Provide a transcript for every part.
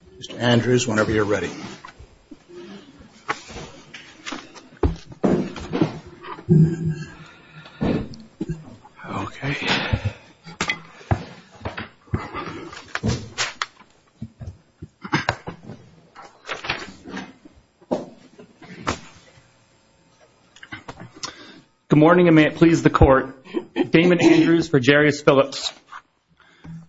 Good morning, and may it please the Court. Damon Andrews for Jarius Phillips.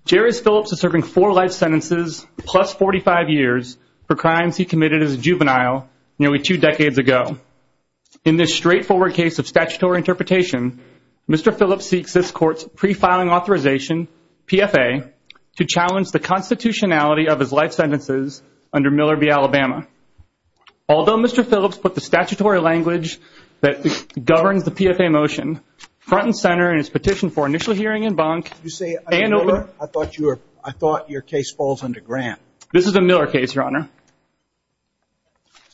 Jarius Phillips is serving four life sentences plus 45 years for crimes he committed as a juvenile nearly two decades ago. In this straightforward case of statutory interpretation, Mr. Phillips seeks this Court's pre-filing authorization, PFA, to challenge the constitutionality of his life sentences under Miller v. Alabama. Although Mr. Phillips put the statutory language that governs the PFA motion front and center in his petition for initial hearing in bunk, and open... I thought your case falls under grant. This is a Miller case, Your Honor.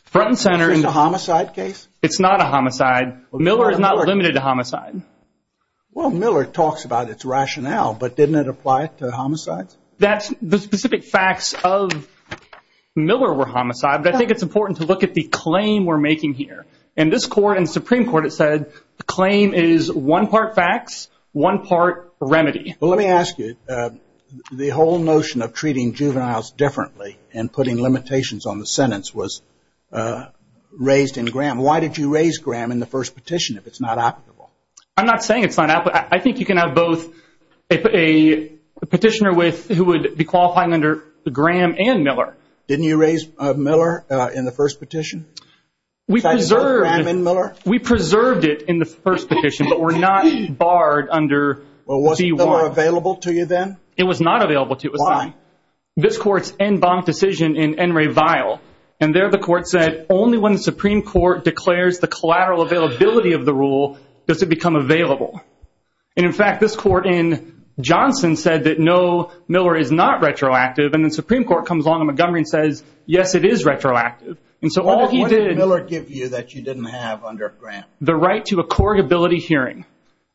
Front and center... Is this a homicide case? It's not a homicide. Miller is not limited to homicide. Well, Miller talks about its rationale, but didn't it apply to homicides? The specific facts of Miller were homicide, but I think it's important to look at the claim we're making here. In this Court and Supreme Court, it said the claim is one part facts, one part remedy. Well, let me ask you, the whole notion of treating juveniles differently and putting limitations on the sentence was raised in Graham. Why did you raise Graham in the first petition if it's not applicable? I'm not saying it's not applicable. I think you can have both a petitioner who would be qualifying under Graham and Miller. Didn't you raise Miller in the first petition? We preserved it in the first petition, but we're not barred under B-1. Well, wasn't Miller available to you then? It was not available to me. Why? This Court's en banc decision in N. Ray Vial, and there the Court said, only when the Supreme Court declares the collateral availability of the rule does it become available. And, in fact, this Court in Johnson said that no, Miller is not retroactive, and the Supreme Court comes along in Montgomery and says, yes, it is retroactive. And so all he did – What did Miller give you that you didn't have under Graham? The right to a corrugability hearing.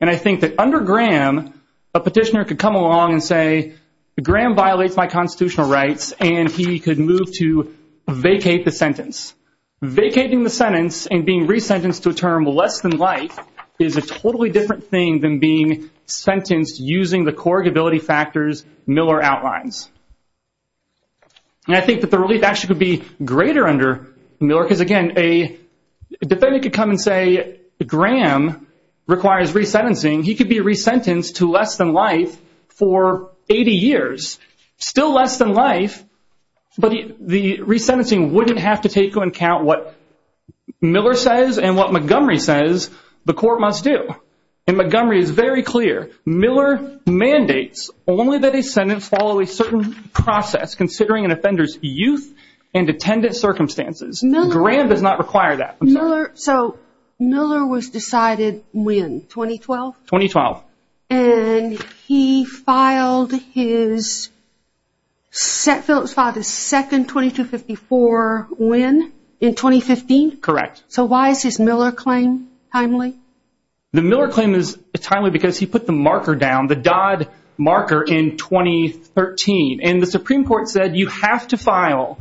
And I think that under Graham, a petitioner could come along and say, Graham violates my constitutional rights, and he could move to vacate the sentence. Vacating the sentence and being resentenced to a term less than life is a totally different thing than being sentenced using the corrugability factors Miller outlines. And I think that the relief actually could be greater under Miller because, again, a defendant could come and say, Graham requires resentencing. He could be resentenced to less than life for 80 years, still less than life, but the resentencing wouldn't have to take into account what Miller says and what Montgomery says the Court must do. And Montgomery is very clear. Miller mandates only that a sentence follow a certain process considering an offender's youth and attendant circumstances. Graham does not require that. So Miller was decided when, 2012? 2012. And he filed his – Phillips filed his second 2254 when, in 2015? Correct. So why is his Miller claim timely? The Miller claim is timely because he put the marker down, the Dodd marker, in 2013. And the Supreme Court said you have to file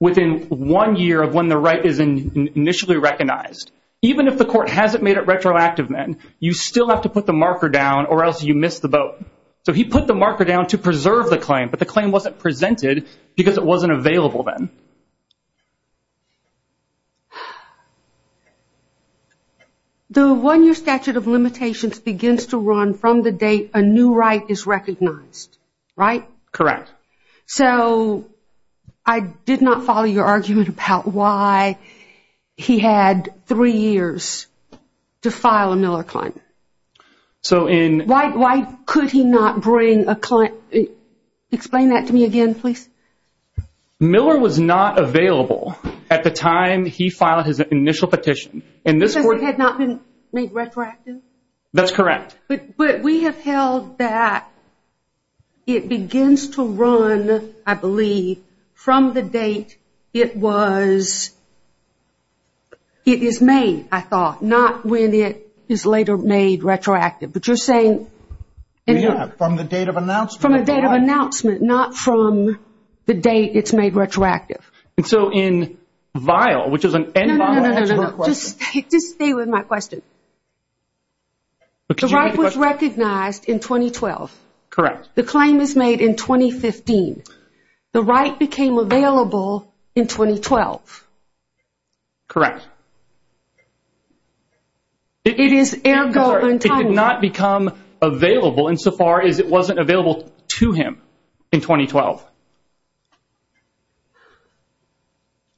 within one year of when the right is initially recognized. Even if the Court hasn't made it retroactive then, you still have to put the marker down or else you miss the boat. So he put the marker down to preserve the claim, but the claim wasn't presented because it wasn't available then. Okay. The one-year statute of limitations begins to run from the date a new right is recognized, right? Correct. So I did not follow your argument about why he had three years to file a Miller claim. So in – Why could he not bring a – explain that to me again, please. Miller was not available at the time he filed his initial petition. Because it had not been made retroactive? That's correct. But we have held that it begins to run, I believe, from the date it was – it is made, I thought, not when it is later made retroactive. But you're saying – Yeah, from the date of announcement. From the date of announcement, not from the date it's made retroactive. And so in vial, which is an end vial – No, no, no, no, no. Just stay with my question. The right was recognized in 2012. Correct. The claim is made in 2015. The right became available in 2012. Correct. It is – It did not become available insofar as it wasn't available to him in 2012.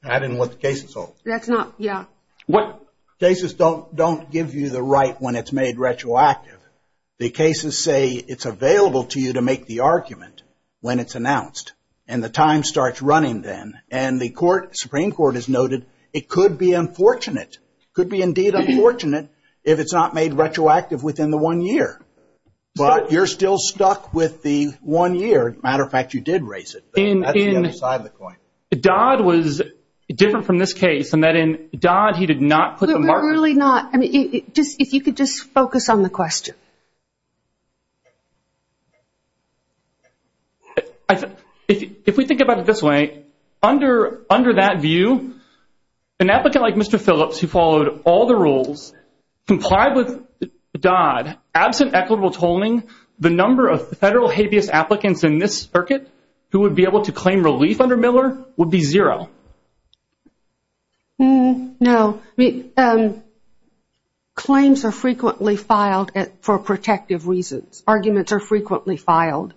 I didn't want the cases solved. That's not – yeah. What – Cases don't give you the right when it's made retroactive. The cases say it's available to you to make the argument when it's announced. And the time starts running then. And the Supreme Court has noted it could be unfortunate, could be indeed unfortunate if it's not made retroactive within the one year. But you're still stuck with the one year. As a matter of fact, you did raise it. That's the other side of the coin. Dodd was different from this case in that in Dodd he did not put the marker. Really not. I mean, if you could just focus on the question. If we think about it this way, under that view, an applicant like Mr. Phillips who followed all the rules, complied with Dodd, absent equitable tolling, the number of federal habeas applicants in this circuit who would be able to claim relief under Miller would be zero. No. Claims are frequently filed for protective reasons. Arguments are frequently filed.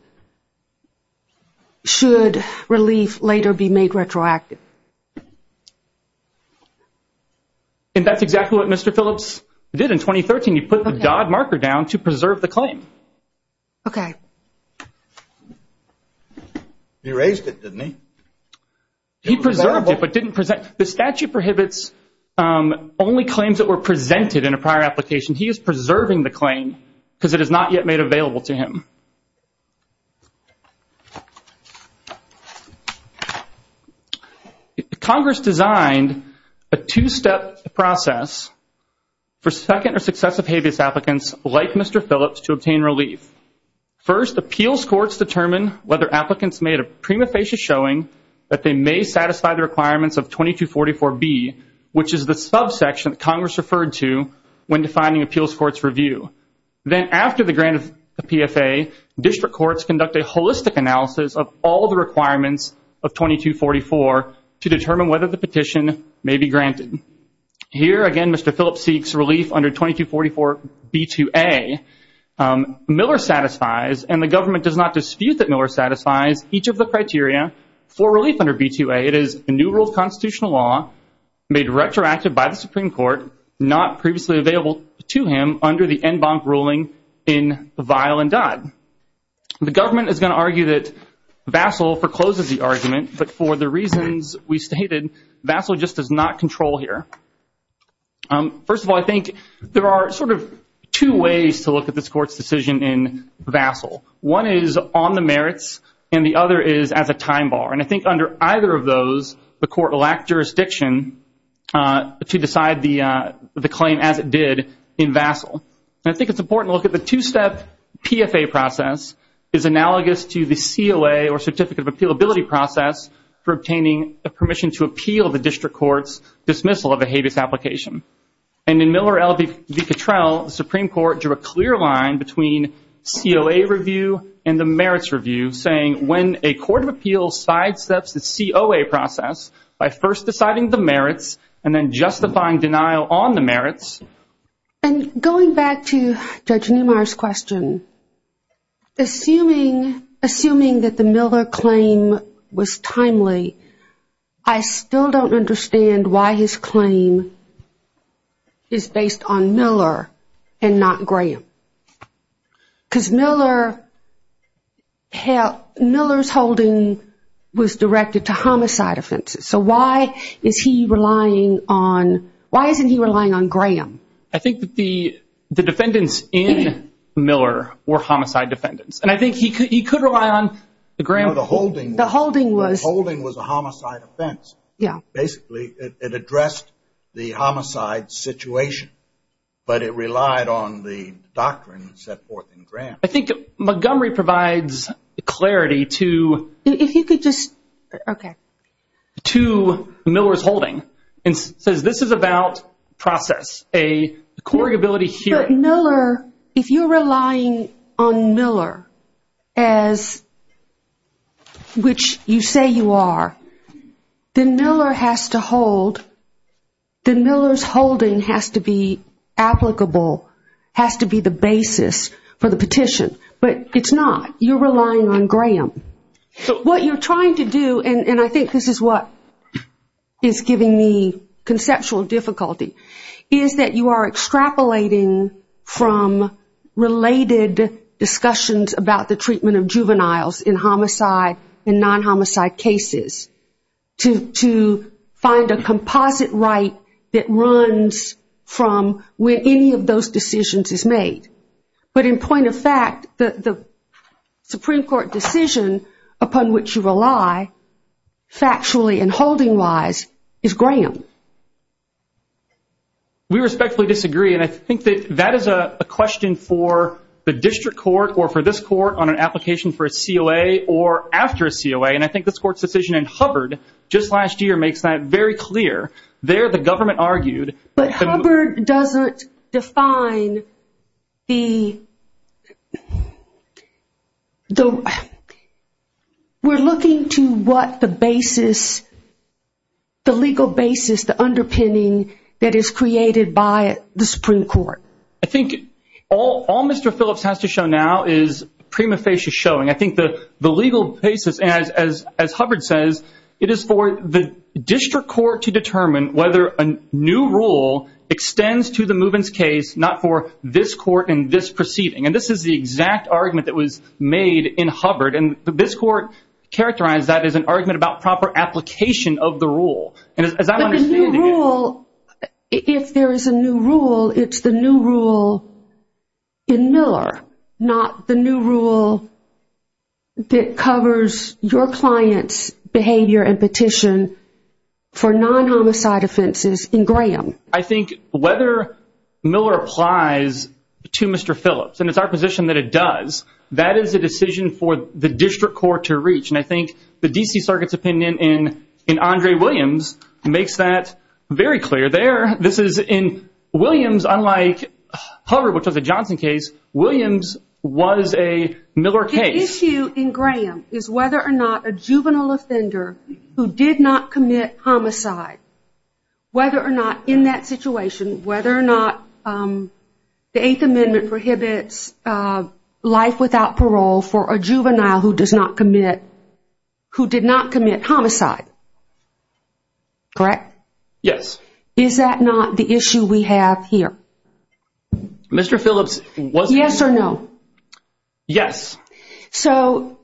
Should relief later be made retroactive? And that's exactly what Mr. Phillips did in 2013. He put the Dodd marker down to preserve the claim. Okay. He raised it, didn't he? He preserved it but didn't present it. The statute prohibits only claims that were presented in a prior application. He is preserving the claim because it is not yet made available to him. Congress designed a two-step process for second or successive habeas applicants like Mr. Phillips to obtain relief. First, appeals courts determine whether applicants made a prima facie showing that they may satisfy the requirements of 2244B, which is the subsection that Congress referred to when defining appeals court's review. Then after the grant of the PFA, district courts conduct a holistic analysis of all the requirements of 2244 to determine whether the petition may be granted. Here, again, Mr. Phillips seeks relief under 2244B2A. Miller satisfies, and the government does not dispute that Miller satisfies, each of the criteria for relief under B2A. It is a new rule of constitutional law made retroactive by the Supreme Court, not previously available to him under the en banc ruling in Vial and Dodd. The government is going to argue that Vassil forecloses the argument, but for the reasons we stated, Vassil just does not control here. First of all, I think there are sort of two ways to look at this court's decision in Vassil. One is on the merits, and the other is as a time bar. And I think under either of those, the court will act jurisdiction to decide the claim as it did in Vassil. And I think it's important to look at the two-step PFA process is analogous to the COA or certificate of appealability process for obtaining a permission to appeal the district court's dismissal of a habeas application. And in Miller v. Cottrell, the Supreme Court drew a clear line between COA review and the merits review, saying when a court of appeals sidesteps the COA process by first deciding the merits and then justifying denial on the merits. And going back to Judge Neumeier's question, assuming that the Miller claim was timely, I still don't understand why his claim is based on Miller and not Graham. Because Miller's holding was directed to homicide offenses. So why isn't he relying on Graham? I think that the defendants in Miller were homicide defendants. And I think he could rely on Graham. No, the holding was a homicide offense. Basically, it addressed the homicide situation. But it relied on the doctrine set forth in Graham. I think Montgomery provides clarity to Miller's holding and says this is about process, a court ability hearing. But Miller, if you're relying on Miller, which you say you are, then Miller's holding has to be applicable, has to be the basis for the petition. But it's not. You're relying on Graham. What you're trying to do, and I think this is what is giving me conceptual difficulty, is that you are extrapolating from related discussions about the treatment of juveniles in homicide and non-homicide cases to find a composite right that runs from where any of those decisions is made. But in point of fact, the Supreme Court decision upon which you rely, factually and holding-wise, is Graham. We respectfully disagree. And I think that that is a question for the district court or for this court on an application for a COA or after a COA. And I think this court's decision in Hubbard just last year makes that very clear. There the government argued. But Hubbard doesn't define the – we're looking to what the basis, the legal basis, the underpinning that is created by the Supreme Court. I think all Mr. Phillips has to show now is prima facie showing. I think the legal basis, as Hubbard says, it is for the district court to determine whether a new rule extends to the movements case, not for this court and this proceeding. And this is the exact argument that was made in Hubbard. And this court characterized that as an argument about proper application of the rule. But the new rule, if there is a new rule, it's the new rule in Miller, not the new rule that covers your client's behavior and petition for non-homicide offenses in Graham. I think whether Miller applies to Mr. Phillips, and it's our position that it does, that is a decision for the district court to reach. And I think the D.C. Circuit's opinion in Andre Williams makes that very clear there. This is in Williams, unlike Hubbard, which was a Johnson case, Williams was a Miller case. The issue in Graham is whether or not a juvenile offender who did not commit homicide, whether or not in that situation, whether or not the Eighth Amendment prohibits life without parole for a juvenile who did not commit homicide. Correct? Yes. Is that not the issue we have here? Mr. Phillips was- Yes or no? Yes. So,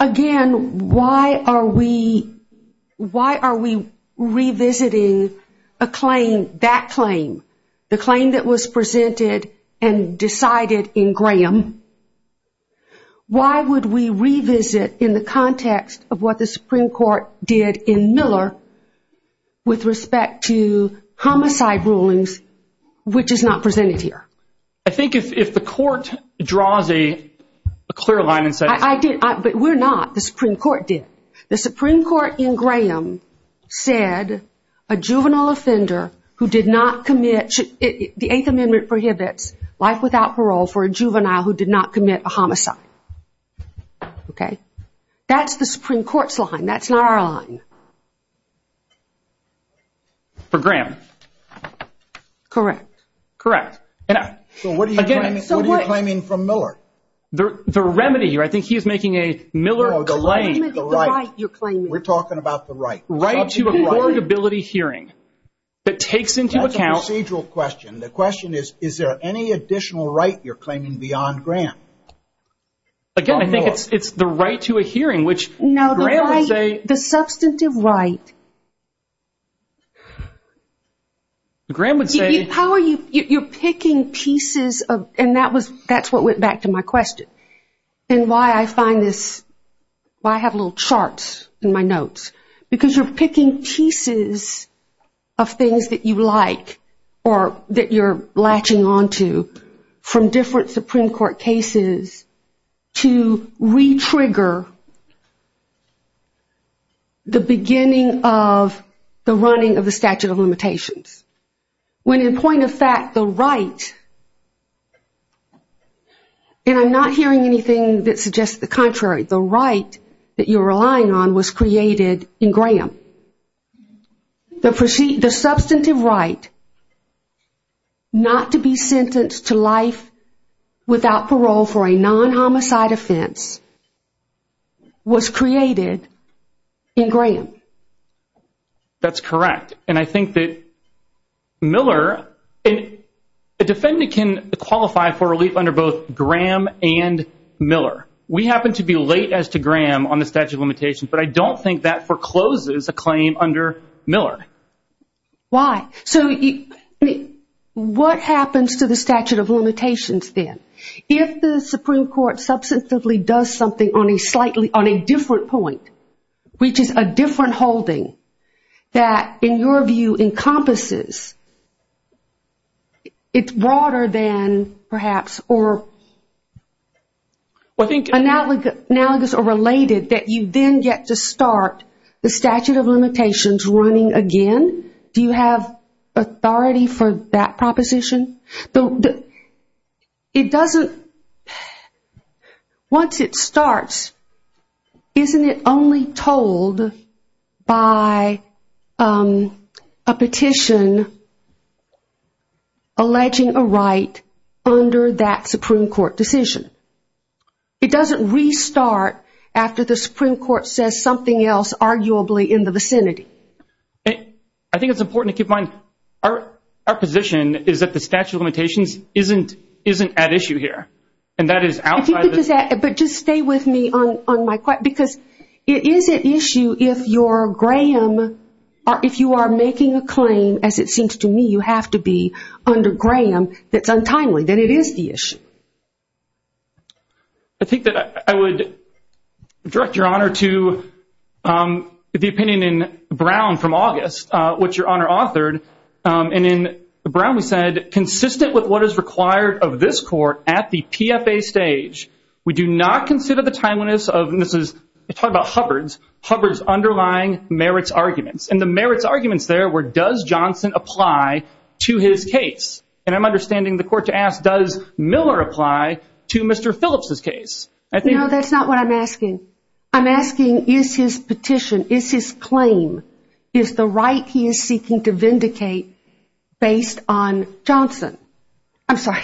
again, why are we revisiting a claim, that claim, the claim that was presented and decided in Graham, why would we revisit in the context of what the Supreme Court did in Miller with respect to homicide rulings, which is not presented here? I think if the court draws a clear line and says- I did, but we're not, the Supreme Court did. The Supreme Court in Graham said a juvenile offender who did not commit, the Eighth Amendment prohibits life without parole for a juvenile who did not commit a homicide. Okay? That's the Supreme Court's line. That's not our line. For Graham? Correct. Correct. So what are you claiming from Miller? The remedy here, I think he's making a Miller- No, the right. The right you're claiming. We're talking about the right. Right to affordability hearing that takes into account- That's a procedural question. The question is, is there any additional right you're claiming beyond Graham? Again, I think it's the right to a hearing, which Graham would say- No, the right, the substantive right. Graham would say- You're picking pieces of, and that's what went back to my question, and why I find this, why I have little charts in my notes, because you're picking pieces of things that you like or that you're latching onto from different Supreme Court cases to re-trigger the beginning of the running of the statute of limitations. When, in point of fact, the right, and I'm not hearing anything that suggests the contrary, the right that you're relying on was created in Graham. The substantive right not to be sentenced to life without parole for a non-homicide offense was created in Graham. That's correct. I think that Miller, a defendant can qualify for relief under both Graham and Miller. We happen to be late as to Graham on the statute of limitations, but I don't think that forecloses a claim under Miller. Why? What happens to the statute of limitations then? If the Supreme Court substantively does something on a different point, which is a different holding that, in your view, encompasses, it's broader than perhaps or analogous or related that you then get to start the statute of limitations running again, do you have authority for that proposition? Once it starts, isn't it only told by a petition alleging a right under that Supreme Court decision? It doesn't restart after the Supreme Court says something else, arguably, in the vicinity. I think it's important to keep in mind, our position is that the statute of limitations isn't at issue here. Just stay with me on my question because it is at issue if you are making a claim, as it seems to me you have to be, under Graham that's untimely, that it is the issue. I think that I would direct your honor to the opinion in Brown from August, which your honor authored, and in Brown we said, consistent with what is required of this court at the PFA stage, we do not consider the timeliness of, and this is, we're talking about Hubbard's, Hubbard's underlying merits arguments. And the merits arguments there were, does Johnson apply to his case? And I'm understanding the court to ask, does Miller apply to Mr. Phillips' case? No, that's not what I'm asking. I'm asking, is his petition, is his claim, is the right he is seeking to vindicate based on Johnson? I'm sorry,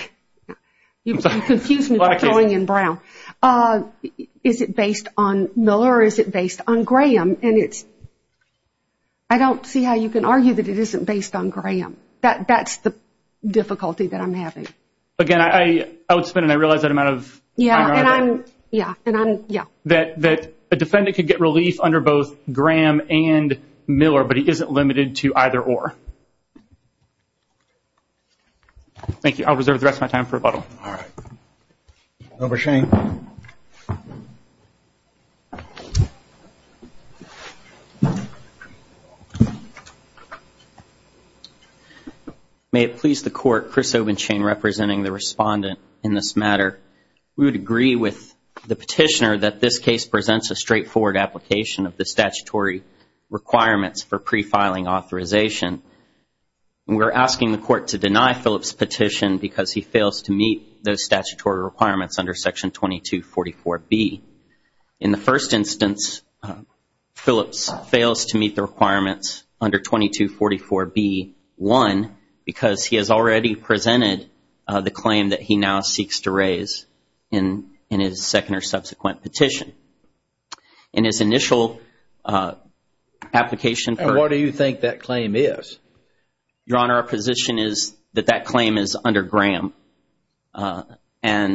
you confused me by throwing in Brown. Is it based on Miller or is it based on Graham? And it's, I don't see how you can argue that it isn't based on Graham. That's the difficulty that I'm having. Yeah, and I'm, yeah, and I'm, yeah. That a defendant could get relief under both Graham and Miller, but he isn't limited to either or. Thank you. I'll reserve the rest of my time for rebuttal. All right. Governor Shane. May it please the Court, Chris Obenshane representing the respondent in this matter. We would agree with the petitioner that this case presents a straightforward application of the statutory requirements for pre-filing authorization. And we're asking the Court to deny Phillips' petition because he fails to meet those statutory requirements under Section 2244B. In the first instance, Phillips fails to meet the requirements under 2244B1 because he has already presented the claim that he now seeks to raise in his second or subsequent petition. In his initial application for. And what do you think that claim is? Your Honor, our position is that that claim is under Graham. However,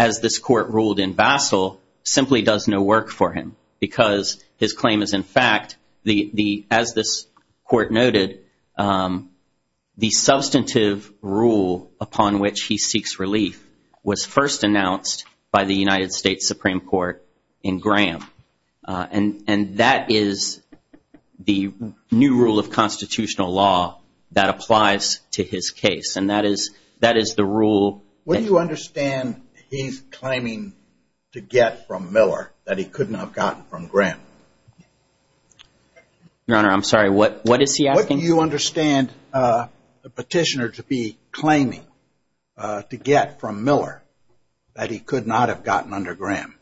as this Court ruled in Basel, simply does no work for him because his claim is in fact, as this Court noted, the substantive rule upon which he seeks relief was first announced by the United States Supreme Court in Graham. And that is the new rule of constitutional law that applies to his case. And that is the rule. What do you understand he's claiming to get from Miller that he couldn't have gotten from Graham? Your Honor, I'm sorry. What is he asking? What do you understand the petitioner to be claiming to get from Miller that he could not have gotten under Graham?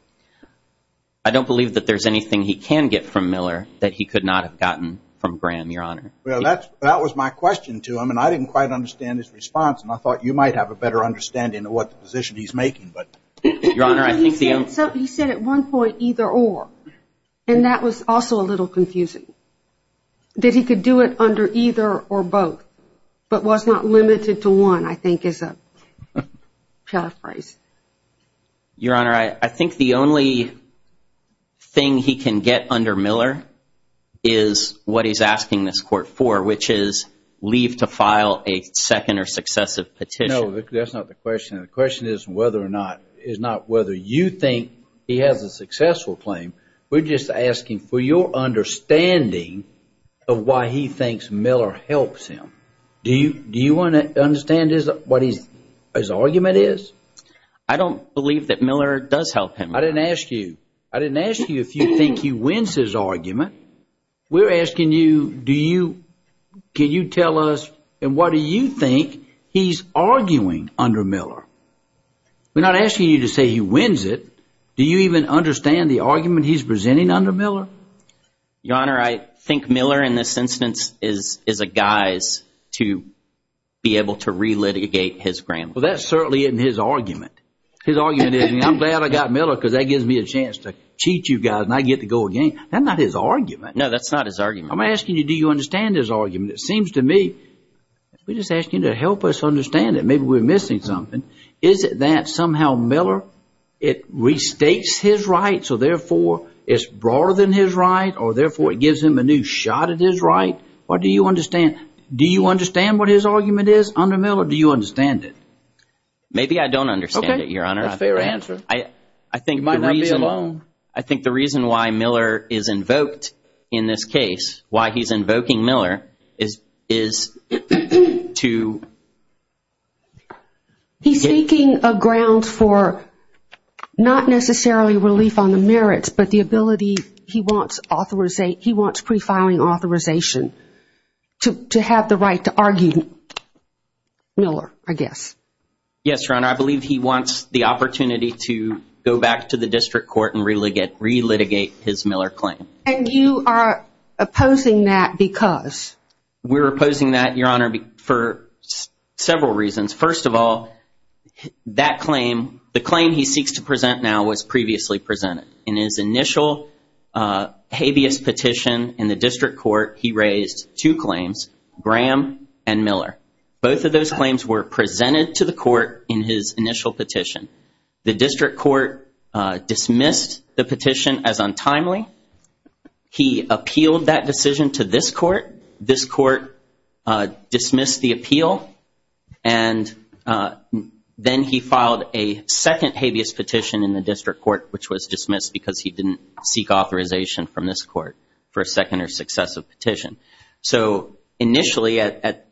I don't believe that there's anything he can get from Miller that he could not have gotten from Graham, Your Honor. Well, that was my question to him, and I didn't quite understand his response. And I thought you might have a better understanding of what position he's making, but. Your Honor, I think the only. He said at one point, either or. And that was also a little confusing. That he could do it under either or both, but was not limited to one, I think is a paraphrase. Your Honor, I think the only thing he can get under Miller is what he's asking this court for, which is leave to file a second or successive petition. No, that's not the question. The question is whether or not, is not whether you think he has a successful claim. We're just asking for your understanding of why he thinks Miller helps him. Do you want to understand what his argument is? I don't believe that Miller does help him. I didn't ask you. I didn't ask you if you think he wins his argument. We're asking you, do you, can you tell us, and what do you think he's arguing under Miller? We're not asking you to say he wins it. Do you even understand the argument he's presenting under Miller? Your Honor, I think Miller, in this instance, is a guise to be able to re-litigate his grand law. Well, that certainly isn't his argument. His argument isn't, I'm glad I got Miller because that gives me a chance to cheat you guys and I get to go again. That's not his argument. No, that's not his argument. I'm asking you, do you understand his argument? It seems to me, we're just asking you to help us understand it. Maybe we're missing something. Is it that somehow Miller, it restates his right, so therefore it's broader than his right or therefore it gives him a new shot at his right? What do you understand? Do you understand what his argument is under Miller? Do you understand it? Maybe I don't understand it, Your Honor. That's a fair answer. You might not be alone. I think the reason why Miller is invoked in this case, why he's invoking Miller, is to. He's seeking a ground for not necessarily relief on the merits, but the ability he wants pre-filing authorization to have the right to argue Yes, Your Honor. I believe he wants the opportunity to go back to the district court and re-litigate his Miller claim. And you are opposing that because? We're opposing that, Your Honor, for several reasons. First of all, that claim, the claim he seeks to present now, was previously presented. In his initial habeas petition in the district court, he raised two claims, Graham and Miller. Both of those claims were presented to the court in his initial petition. The district court dismissed the petition as untimely. He appealed that decision to this court. This court dismissed the appeal, and then he filed a second habeas petition in the district court, which was dismissed because he didn't seek authorization from this court for a second or successive petition. So initially at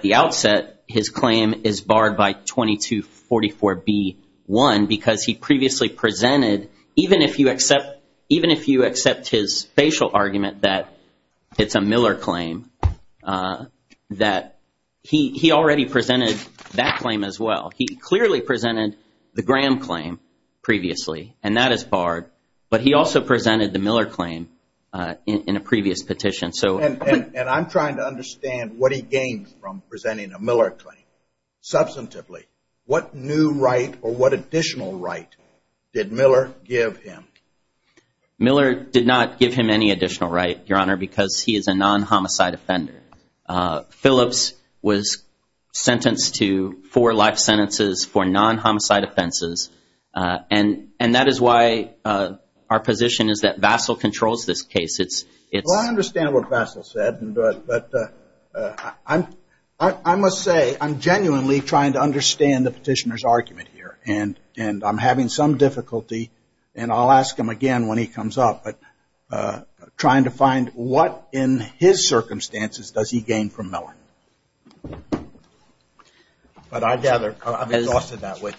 the outset, his claim is barred by 2244B1 because he previously presented, even if you accept his facial argument that it's a Miller claim, that he already presented that claim as well. He clearly presented the Graham claim previously, and that is barred. But he also presented the Miller claim in a previous petition. And I'm trying to understand what he gained from presenting a Miller claim. Substantively, what new right or what additional right did Miller give him? Miller did not give him any additional right, Your Honor, because he is a non-homicide offender. Phillips was sentenced to four life sentences for non-homicide offenses, and that is why our position is that Vassal controls this case. Well, I understand what Vassal said, but I must say, I'm genuinely trying to understand the petitioner's argument here, and I'm having some difficulty, and I'll ask him again when he comes up, but trying to find what in his circumstances does he gain from Miller? But I gather I'm exhausted that way.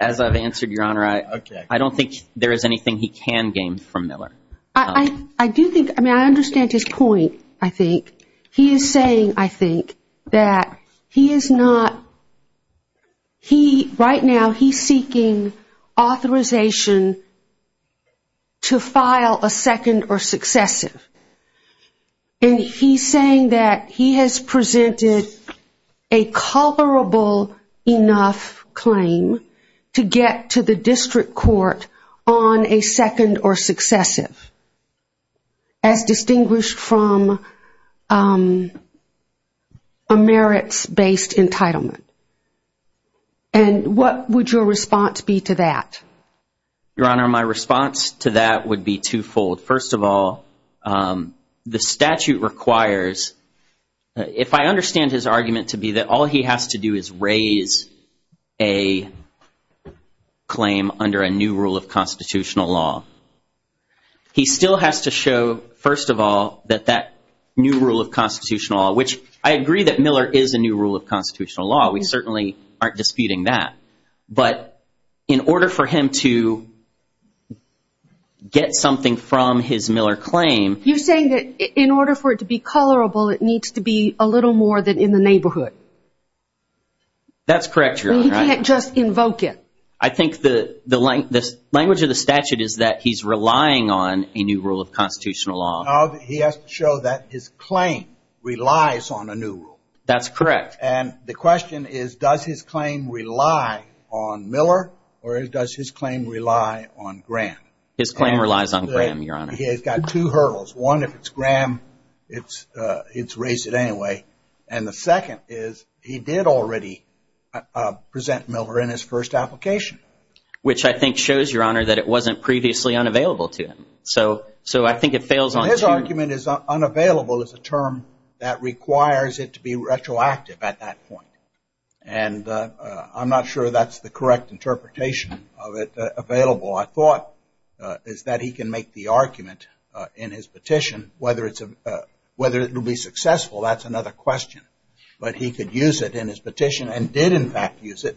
As I've answered, Your Honor, I don't think there is anything he can gain from Miller. I do think, I mean, I understand his point, I think. He is saying, I think, that he is not, right now he's seeking authorization to file a second or successive. And he's saying that he has presented a comparable enough claim to get to the district court on a second or successive, as distinguished from a merits-based entitlement. And what would your response be to that? Your Honor, my response to that would be twofold. First of all, the statute requires, if I understand his argument to be that all he has to do is raise a claim under a new rule of constitutional law, he still has to show, first of all, that that new rule of constitutional law, which I agree that Miller is a new rule of constitutional law. We certainly aren't disputing that. But in order for him to get something from his Miller claim, You're saying that in order for it to be colorable, it needs to be a little more than in the neighborhood. That's correct, Your Honor. You can't just invoke it. I think the language of the statute is that he's relying on a new rule of constitutional law. No, he has to show that his claim relies on a new rule. That's correct. And the question is, does his claim rely on Miller or does his claim rely on Graham? His claim relies on Graham, Your Honor. He has got two hurdles. One, if it's Graham, it's raised at any way. And the second is he did already present Miller in his first application. Which I think shows, Your Honor, that it wasn't previously unavailable to him. So I think it fails on two. His argument is unavailable is a term that requires it to be retroactive at that point. And I'm not sure that's the correct interpretation of it available. All I thought is that he can make the argument in his petition whether it will be successful. That's another question. But he could use it in his petition and did, in fact, use it.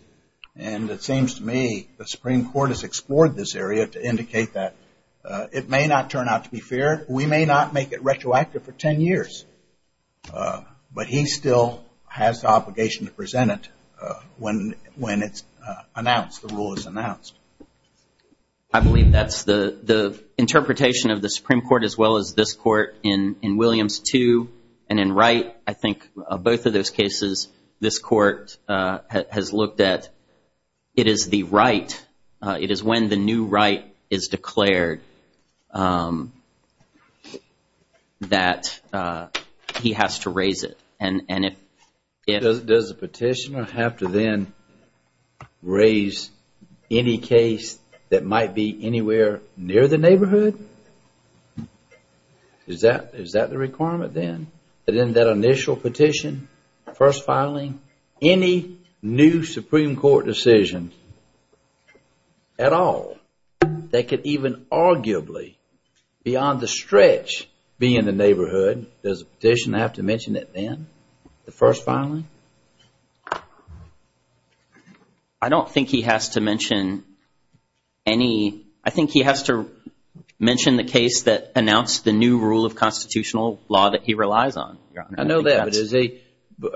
And it seems to me the Supreme Court has explored this area to indicate that it may not turn out to be fair. We may not make it retroactive for ten years. But he still has the obligation to present it when it's announced, the rule is announced. I believe that's the interpretation of the Supreme Court as well as this court in Williams 2 and in Wright. I think both of those cases this court has looked at. It is the right. He has to raise it. Does the petitioner have to then raise any case that might be anywhere near the neighborhood? Is that the requirement then? That in that initial petition, first filing, any new Supreme Court decision at all, that could even arguably, beyond the stretch, be in the neighborhood, does the petitioner have to mention it then? The first filing? I don't think he has to mention any. I think he has to mention the case that announced the new rule of constitutional law that he relies on. I know that, but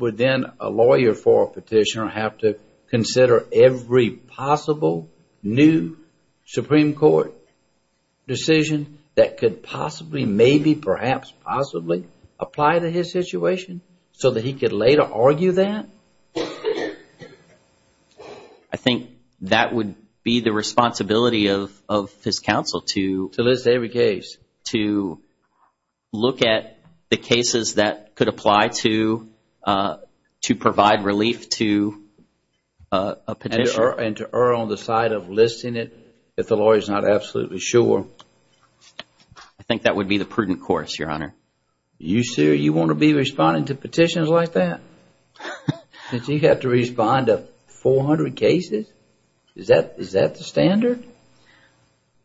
would then a lawyer for a petitioner have to consider every possible new Supreme Court decision that could possibly, maybe, perhaps, possibly, apply to his situation so that he could later argue that? I think that would be the responsibility of his counsel. To list every case. To look at the cases that could apply to provide relief to a petitioner. And to err on the side of listing it if the lawyer is not absolutely sure. I think that would be the prudent course, Your Honor. You sure you want to be responding to petitions like that? Since you have to respond to 400 cases? Is that the standard?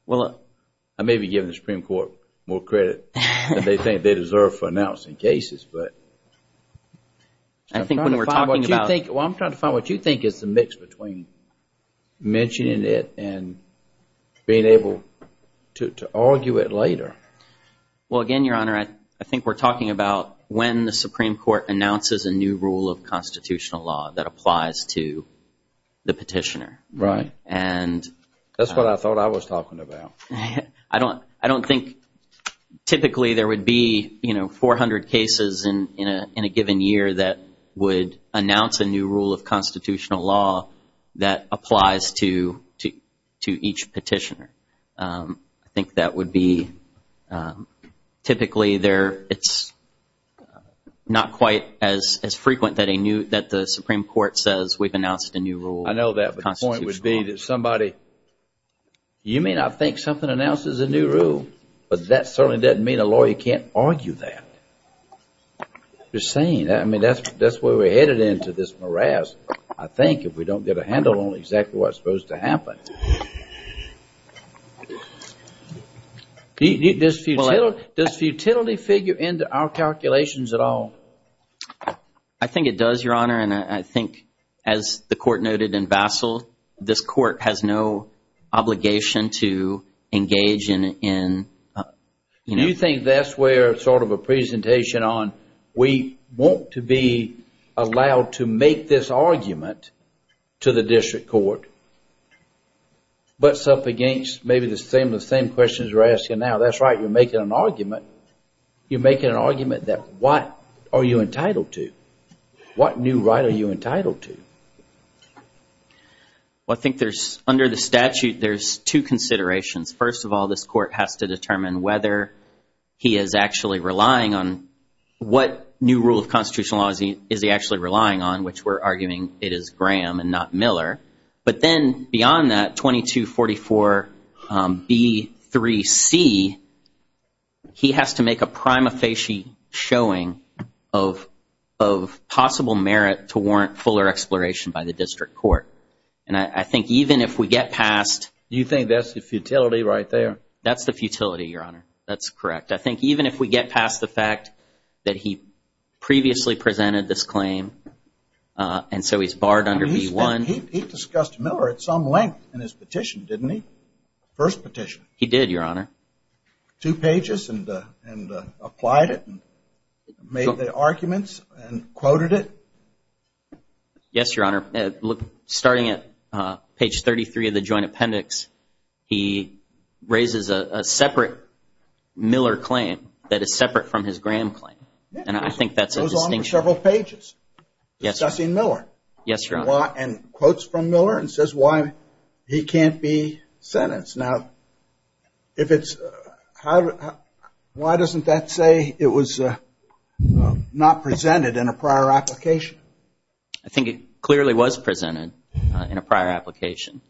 Well, I may be giving the Supreme Court more credit than they think they deserve for announcing cases. I'm trying to find what you think is the mix between mentioning it and being able to argue it later. Well, again, Your Honor, I think we're talking about when the Supreme Court announces a new rule of constitutional law that applies to the petitioner. Right. That's what I thought I was talking about. I don't think typically there would be 400 cases in a given year that would announce a new rule of constitutional law that applies to each petitioner. I think that would be typically it's not quite as frequent that the Supreme Court says we've announced a new rule of constitutional law. I know that, but the point would be that somebody, you may not think something announces a new rule, but that certainly doesn't mean a lawyer can't argue that. Just saying. I mean, that's where we're headed into this morass, I think, if we don't get a handle on exactly what's supposed to happen. Does futility figure into our calculations at all? I think it does, Your Honor, and I think, as the Court noted in Vassil, this Court has no obligation to engage in. You think that's where sort of a presentation on we want to be allowed to make this argument to the District Court, butts up against maybe the same questions we're asking now. That's right, you're making an argument. You're making an argument that what are you entitled to? What new right are you entitled to? Well, I think there's, under the statute, there's two considerations. First of all, this Court has to determine whether he is actually relying on what new rule of constitutional law is he actually relying on, which we're arguing it is Graham and not Miller. But then, beyond that, 2244B3C, he has to make a prima facie showing of possible merit to warrant fuller exploration by the District Court. And I think even if we get past... You think that's the futility right there? That's the futility, Your Honor. That's correct. I think even if we get past the fact that he previously presented this claim, and so he's barred under B1... He discussed Miller at some length in his petition, didn't he? First petition. He did, Your Honor. Two pages, and applied it, and made the arguments, and quoted it? Yes, Your Honor. Starting at page 33 of the joint appendix, he raises a separate Miller claim that is separate from his Graham claim. And I think that's a distinction. It goes on for several pages, discussing Miller. Yes, Your Honor. And quotes from Miller, and says why he can't be sentenced. Now, if it's... Why doesn't that say it was not presented in a prior application? I think it clearly was presented in a prior application.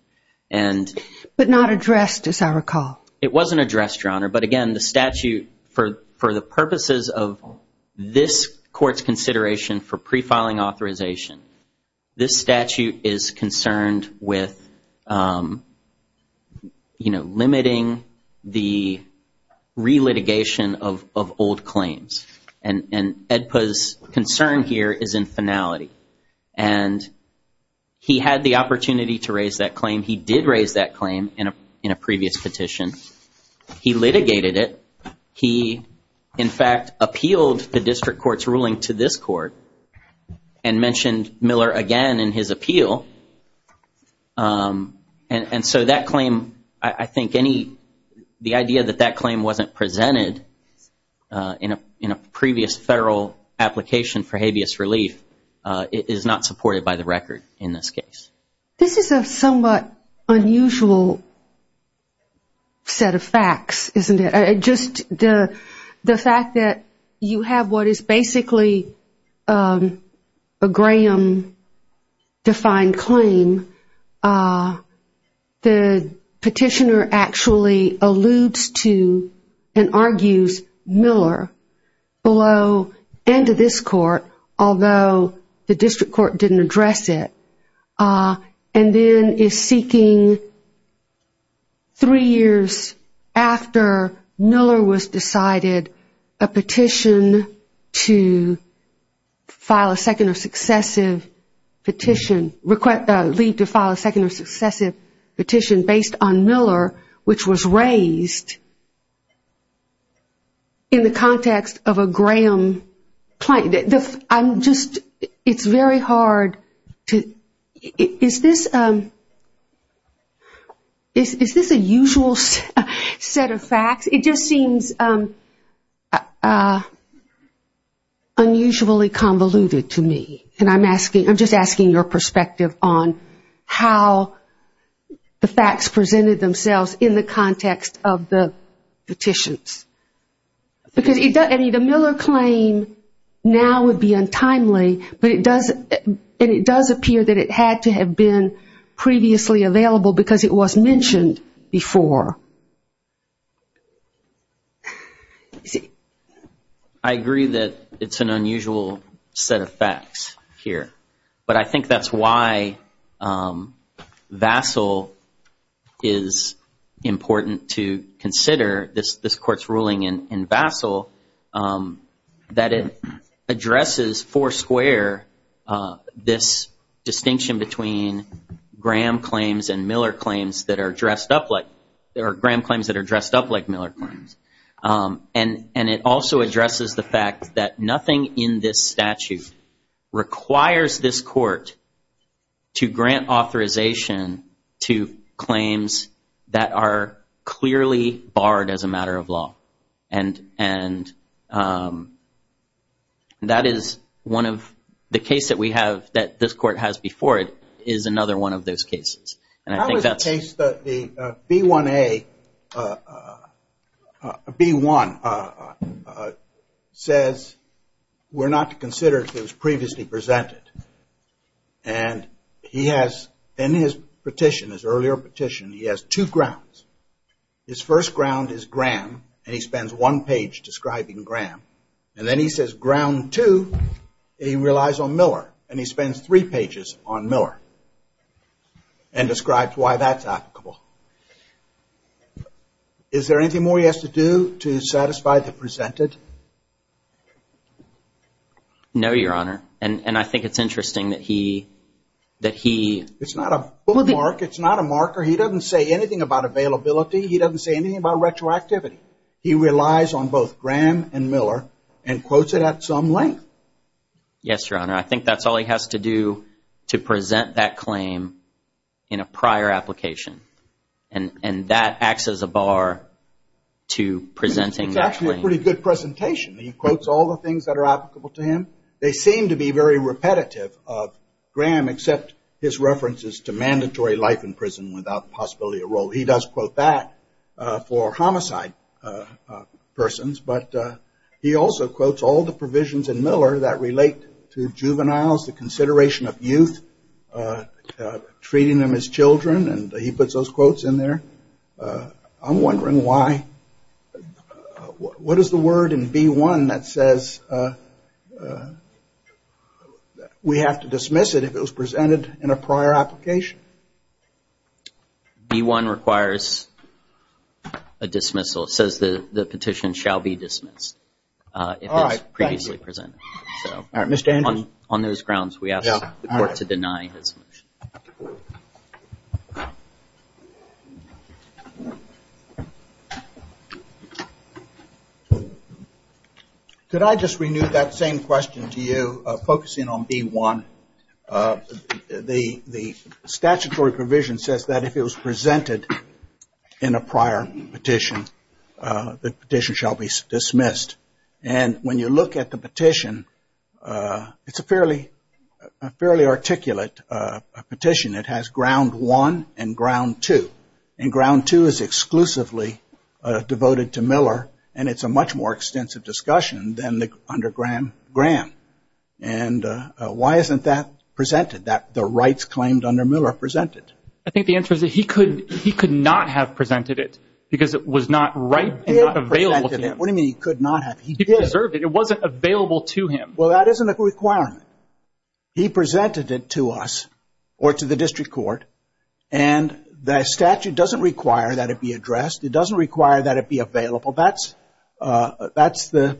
But not addressed, as I recall. It wasn't addressed, Your Honor. But again, the statute, for the purposes of this court's consideration for pre-filing authorization, this statute is concerned with limiting the re-litigation of old claims. And EDPA's concern here is in finality. And he had the opportunity to raise that claim. He did raise that claim in a previous petition. He litigated it. He, in fact, appealed the district court's ruling to this court, and mentioned Miller again in his appeal. And so that claim, I think any... The idea that that claim wasn't presented in a previous federal application for habeas relief is not supported by the record in this case. This is a somewhat unusual set of facts, isn't it? Just the fact that you have what is basically a Graham-defined claim. The petitioner actually alludes to and argues Miller below and to this court, although the district court didn't address it. And then is seeking, three years after Miller was decided, a petition to file a second or successive petition, leave to file a second or successive petition based on Miller, which was raised in the context of a Graham claim. I'm just... It's very hard to... Is this a usual set of facts? It just seems unusually convoluted to me. And I'm just asking your perspective on how the facts presented themselves in the context of the petitions. Because the Miller claim now would be untimely, but it does... And it does appear that it had to have been previously available because it was mentioned before. I agree that it's an unusual set of facts here. But I think that's why Vassil is important to consider, this court's ruling in Vassil, that it addresses foursquare this distinction between Graham claims and Miller claims that are dressed up like... There are Graham claims that are dressed up like Miller claims. And it also addresses the fact that nothing in this statute requires this court to grant authorization to claims that are clearly barred as a matter of law. And that is one of... The case that we have, that this court has before it, is another one of those cases. That was a case that the B1A... B1 says we're not to consider if it was previously presented. And he has, in his petition, his earlier petition, he has two grounds. His first ground is Graham, and he spends one page describing Graham. And then he says ground two, he relies on Miller, and he spends three pages on Miller. And describes why that's applicable. Is there anything more he has to do to satisfy the presented? No, Your Honor. And I think it's interesting that he... It's not a bullet mark. It's not a marker. He doesn't say anything about availability. He doesn't say anything about retroactivity. He relies on both Graham and Miller and quotes it at some length. Yes, Your Honor. I think that's all he has to do to present that claim in a prior application. And that acts as a bar to presenting that claim. It's actually a pretty good presentation. He quotes all the things that are applicable to him. They seem to be very repetitive of Graham, except his references to mandatory life in prison without the possibility of parole. He does quote that for homicide persons. But he also quotes all the provisions in Miller that relate to juveniles, the consideration of youth, treating them as children. And he puts those quotes in there. I'm wondering why. What is the word in B-1 that says we have to dismiss it if it was presented in a prior application? B-1 requires a dismissal. It says the petition shall be dismissed if it's previously presented. On those grounds, we ask the court to deny his motion. Could I just renew that same question to you, focusing on B-1? The statutory provision says that if it was presented in a prior petition, the petition shall be dismissed. And when you look at the petition, it's a fairly articulate petition. It has ground one and ground two. And ground two is exclusively devoted to Miller, and it's a much more extensive discussion than under Graham. And why isn't that presented, the rights claimed under Miller presented? I think the answer is that he could not have presented it because it was not available to him. What do you mean he could not have? He deserved it. It wasn't available to him. Well, that isn't a requirement. He presented it to us or to the district court, and the statute doesn't require that it be addressed. It doesn't require that it be available. That's the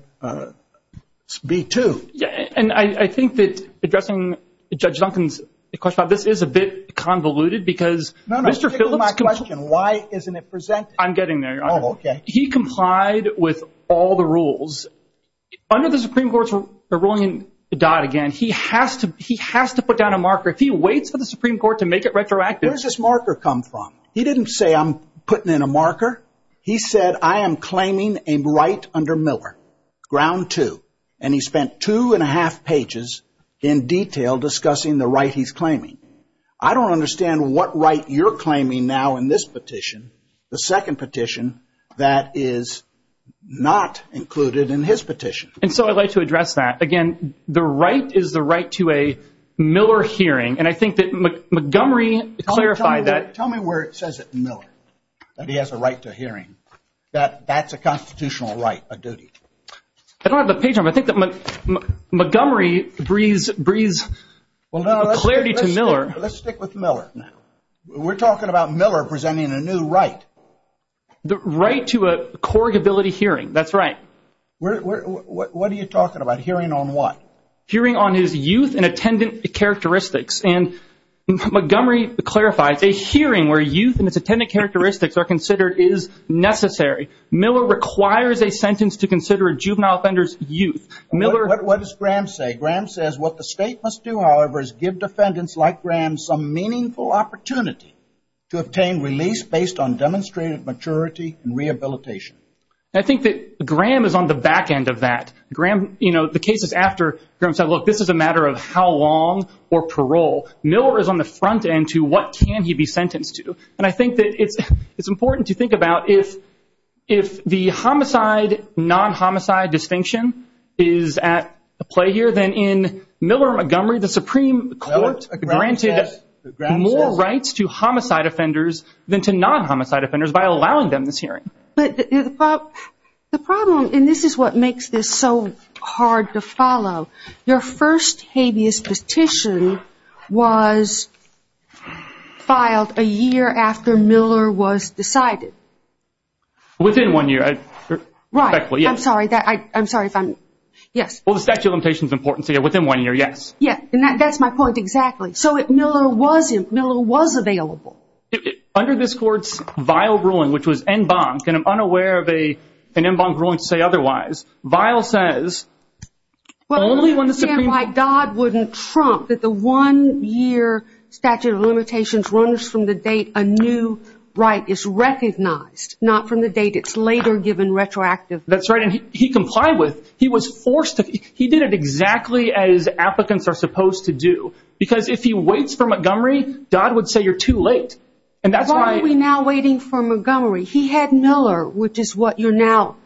B-2. And I think that addressing Judge Duncan's question about this is a bit convoluted because Mr. Phillips. No, no, stick with my question. Why isn't it presented? I'm getting there, Your Honor. Oh, okay. He complied with all the rules. Under the Supreme Court's ruling in Dodd again, he has to put down a marker. If he waits for the Supreme Court to make it retroactive. Where does this marker come from? He didn't say I'm putting in a marker. He said I am claiming a right under Miller, ground two, and he spent two and a half pages in detail discussing the right he's claiming. I don't understand what right you're claiming now in this petition, the second petition that is not included in his petition. And so I'd like to address that. Again, the right is the right to a Miller hearing, and I think that Montgomery clarified that. Tell me where it says it, Miller, that he has a right to a hearing, that that's a constitutional right, a duty. I don't have the page number. I think that Montgomery breathes clarity to Miller. Let's stick with Miller. We're talking about Miller presenting a new right. The right to a corrugability hearing. That's right. What are you talking about? Hearing on what? Hearing on his youth and attendance characteristics. Montgomery clarifies, a hearing where youth and its attendance characteristics are considered is necessary. Miller requires a sentence to consider a juvenile offender's youth. What does Graham say? Graham says what the state must do, however, is give defendants like Graham some meaningful opportunity to obtain release based on demonstrated maturity and rehabilitation. I think that Graham is on the back end of that. The case is after Graham said, look, this is a matter of how long or parole. Miller is on the front end to what can he be sentenced to. And I think that it's important to think about if the homicide, non-homicide distinction is at play here, then in Miller-Montgomery, the Supreme Court granted more rights to homicide offenders than to non-homicide offenders by allowing them this hearing. The problem, and this is what makes this so hard to follow, your first habeas petition was filed a year after Miller was decided. Within one year. Right. I'm sorry. I'm sorry if I'm, yes. Well, the statute of limitations is important to you. Within one year, yes. Yes, and that's my point exactly. So Miller was available. Under this court's vile ruling, which was en banc, and I'm unaware of an en banc ruling to say otherwise. Vile says only when the Supreme Court. Well, I understand why Dodd wouldn't trump that the one year statute of limitations runs from the date a new right is recognized, not from the date it's later given retroactively. That's right. And he complied with. He was forced to. He did it exactly as applicants are supposed to do. Because if he waits for Montgomery, Dodd would say you're too late. And that's why. Why are we now waiting for Montgomery? He had Miller, which is what you're now,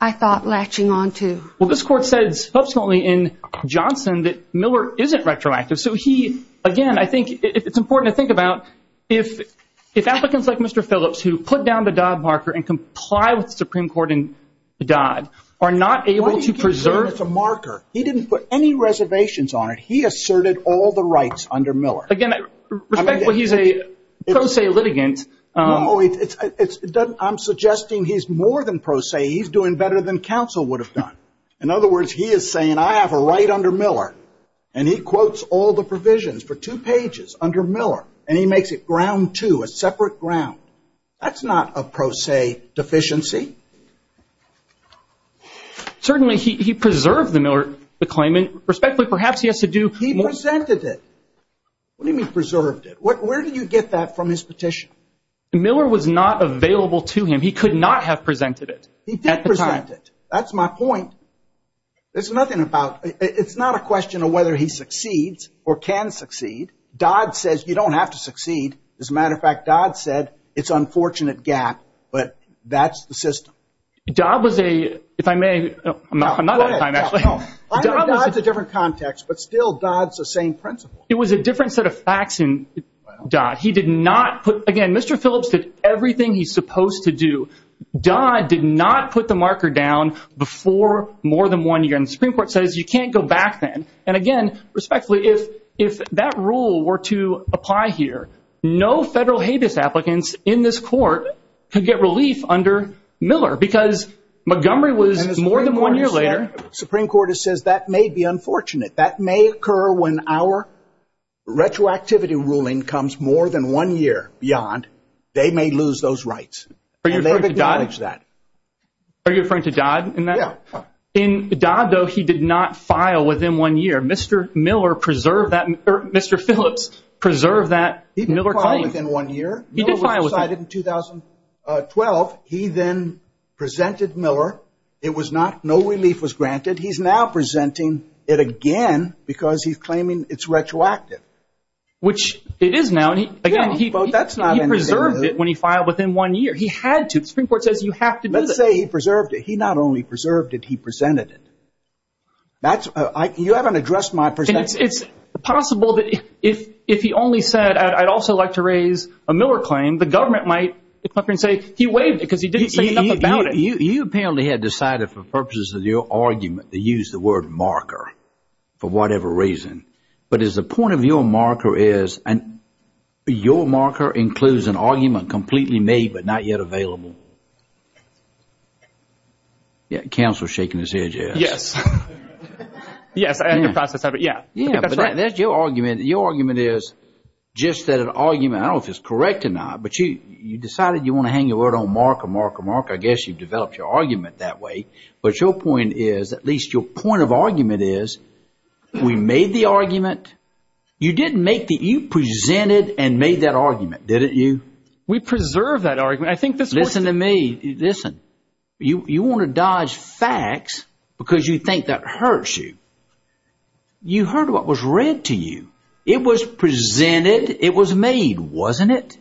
I thought, latching onto. Well, this court says subsequently in Johnson that Miller isn't retroactive. So he, again, I think it's important to think about if applicants like Mr. Phillips who put down the Dodd marker and comply with the Supreme Court and Dodd are not able to preserve. He didn't put any reservations on it. He asserted all the rights under Miller. Again, respectfully, he's a pro se litigant. No, I'm suggesting he's more than pro se. He's doing better than counsel would have done. In other words, he is saying I have a right under Miller. And he quotes all the provisions for two pages under Miller. And he makes it ground two, a separate ground. That's not a pro se deficiency. Certainly he preserved the Miller claimant. Respectfully, perhaps he has to do more. He presented it. What do you mean preserved it? Where do you get that from his petition? Miller was not available to him. He could not have presented it. He did present it. That's my point. There's nothing about it. It's not a question of whether he succeeds or can succeed. Dodd says you don't have to succeed. As a matter of fact, Dodd said it's an unfortunate gap. But that's the system. Dodd was a, if I may, I'm not out of time, actually. Dodd's a different context, but still Dodd's the same principle. It was a different set of facts in Dodd. He did not put, again, Mr. Phillips did everything he's supposed to do. Dodd did not put the marker down before more than one year. And the Supreme Court says you can't go back then. And, again, respectfully, if that rule were to apply here, no federal habeas applicants in this court could get relief under Miller because Montgomery was more than one year later. The Supreme Court says that may be unfortunate. That may occur when our retroactivity ruling comes more than one year beyond. They may lose those rights. And they acknowledge that. Are you referring to Dodd in that? Yeah. In Dodd, though, he did not file within one year. Mr. Phillips preserved that Miller claim. He didn't file within one year. Miller was decided in 2012. He then presented Miller. It was not, no relief was granted. He's now presenting it again because he's claiming it's retroactive. Which it is now. He preserved it when he filed within one year. He had to. The Supreme Court says you have to do this. Let's say he preserved it. He not only preserved it, he presented it. You haven't addressed my perspective. It's possible that if he only said, I'd also like to raise a Miller claim, the government might come up and say he waived it because he didn't say enough about it. You apparently had decided for purposes of your argument to use the word marker for whatever reason. But is the point of your marker is your marker includes an argument completely made but not yet available? Counselor is shaking his head, yes. Yes. Yes. That's right. That's your argument. Your argument is just that an argument, I don't know if it's correct or not, but you decided you want to hang your word on marker, marker, marker. I guess you developed your argument that way. But your point is, at least your point of argument is, we made the argument. You didn't make the – you presented and made that argument, didn't you? We preserved that argument. Listen to me. Listen. You want to dodge facts because you think that hurts you. You heard what was read to you. It was presented. It was made, wasn't it?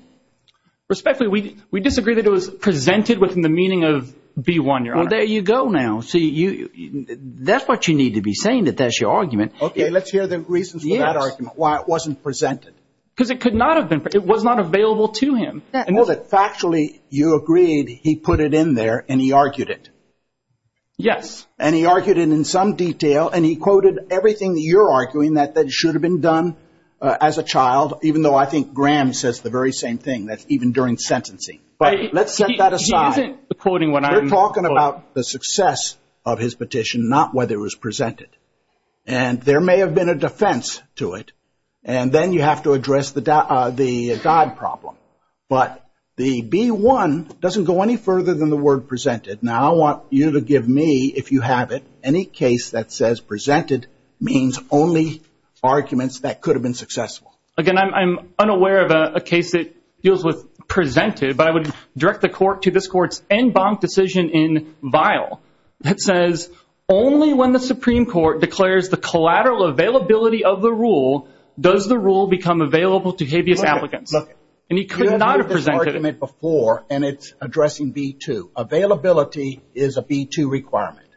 Respectfully, we disagree that it was presented within the meaning of B1, Your Honor. Well, there you go now. See, that's what you need to be saying, that that's your argument. Okay, let's hear the reasons for that argument, why it wasn't presented. Because it could not have been. It was not available to him. Factually, you agreed, he put it in there, and he argued it. Yes. And he argued it in some detail, and he quoted everything that you're arguing that should have been done as a child, even though I think Graham says the very same thing, that's even during sentencing. But let's set that aside. We're talking about the success of his petition, not whether it was presented. And there may have been a defense to it, and then you have to address the God problem. But the B1 doesn't go any further than the word presented. Now, I want you to give me, if you have it, any case that says presented means only arguments that could have been successful. Again, I'm unaware of a case that deals with presented, but I would direct the court to this court's en banc decision in vial that says, only when the Supreme Court declares the collateral availability of the rule, does the rule become available to habeas applicants. And he could not have presented it. You've heard this argument before, and it's addressing B2. Availability is a B2 requirement.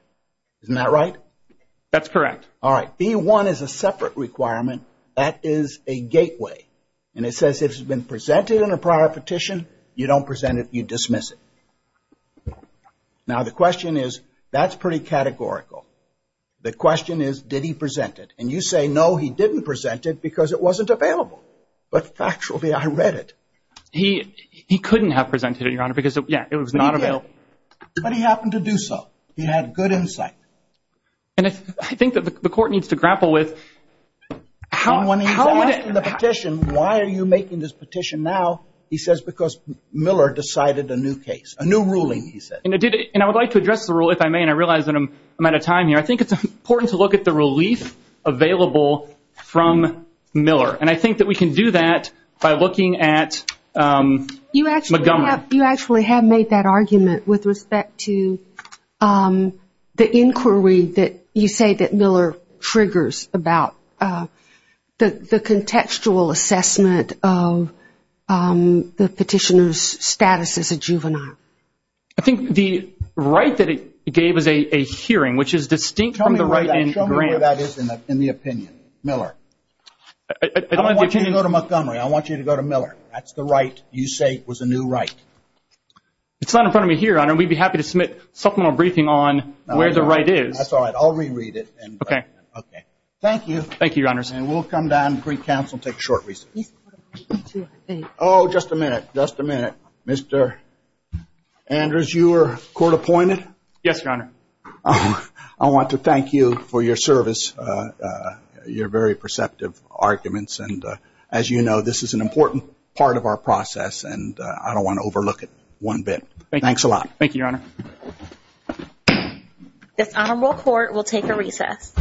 Isn't that right? That's correct. All right. B1 is a separate requirement. That is a gateway. And it says if it's been presented in a prior petition, you don't present it. You dismiss it. Now, the question is, that's pretty categorical. The question is, did he present it? And you say, no, he didn't present it because it wasn't available. But factually, I read it. He couldn't have presented it, Your Honor, because, yeah, it was not available. But he happened to do so. He had good insight. And I think that the court needs to grapple with how would it? If you present the petition, why are you making this petition now? He says because Miller decided a new case, a new ruling, he said. And I would like to address the rule, if I may, and I realize I'm out of time here. I think it's important to look at the relief available from Miller. And I think that we can do that by looking at Montgomery. You actually have made that argument with respect to the inquiry that you say that Miller triggers about. The contextual assessment of the petitioner's status as a juvenile. I think the right that it gave is a hearing, which is distinct from the right in grant. Show me where that is in the opinion, Miller. I don't want you to go to Montgomery. I want you to go to Miller. That's the right you say was a new right. It's not in front of me here, Your Honor. We'd be happy to submit a supplemental briefing on where the right is. That's all right. I'll reread it. Okay. Thank you. Thank you, Your Honor. And we'll come down and brief counsel and take a short recess. Oh, just a minute. Just a minute. Mr. Andrews, you were court appointed? Yes, Your Honor. I want to thank you for your service, your very perceptive arguments. And as you know, this is an important part of our process, and I don't want to overlook it one bit. Thanks a lot. Thank you, Your Honor. This honorable court will take a recess.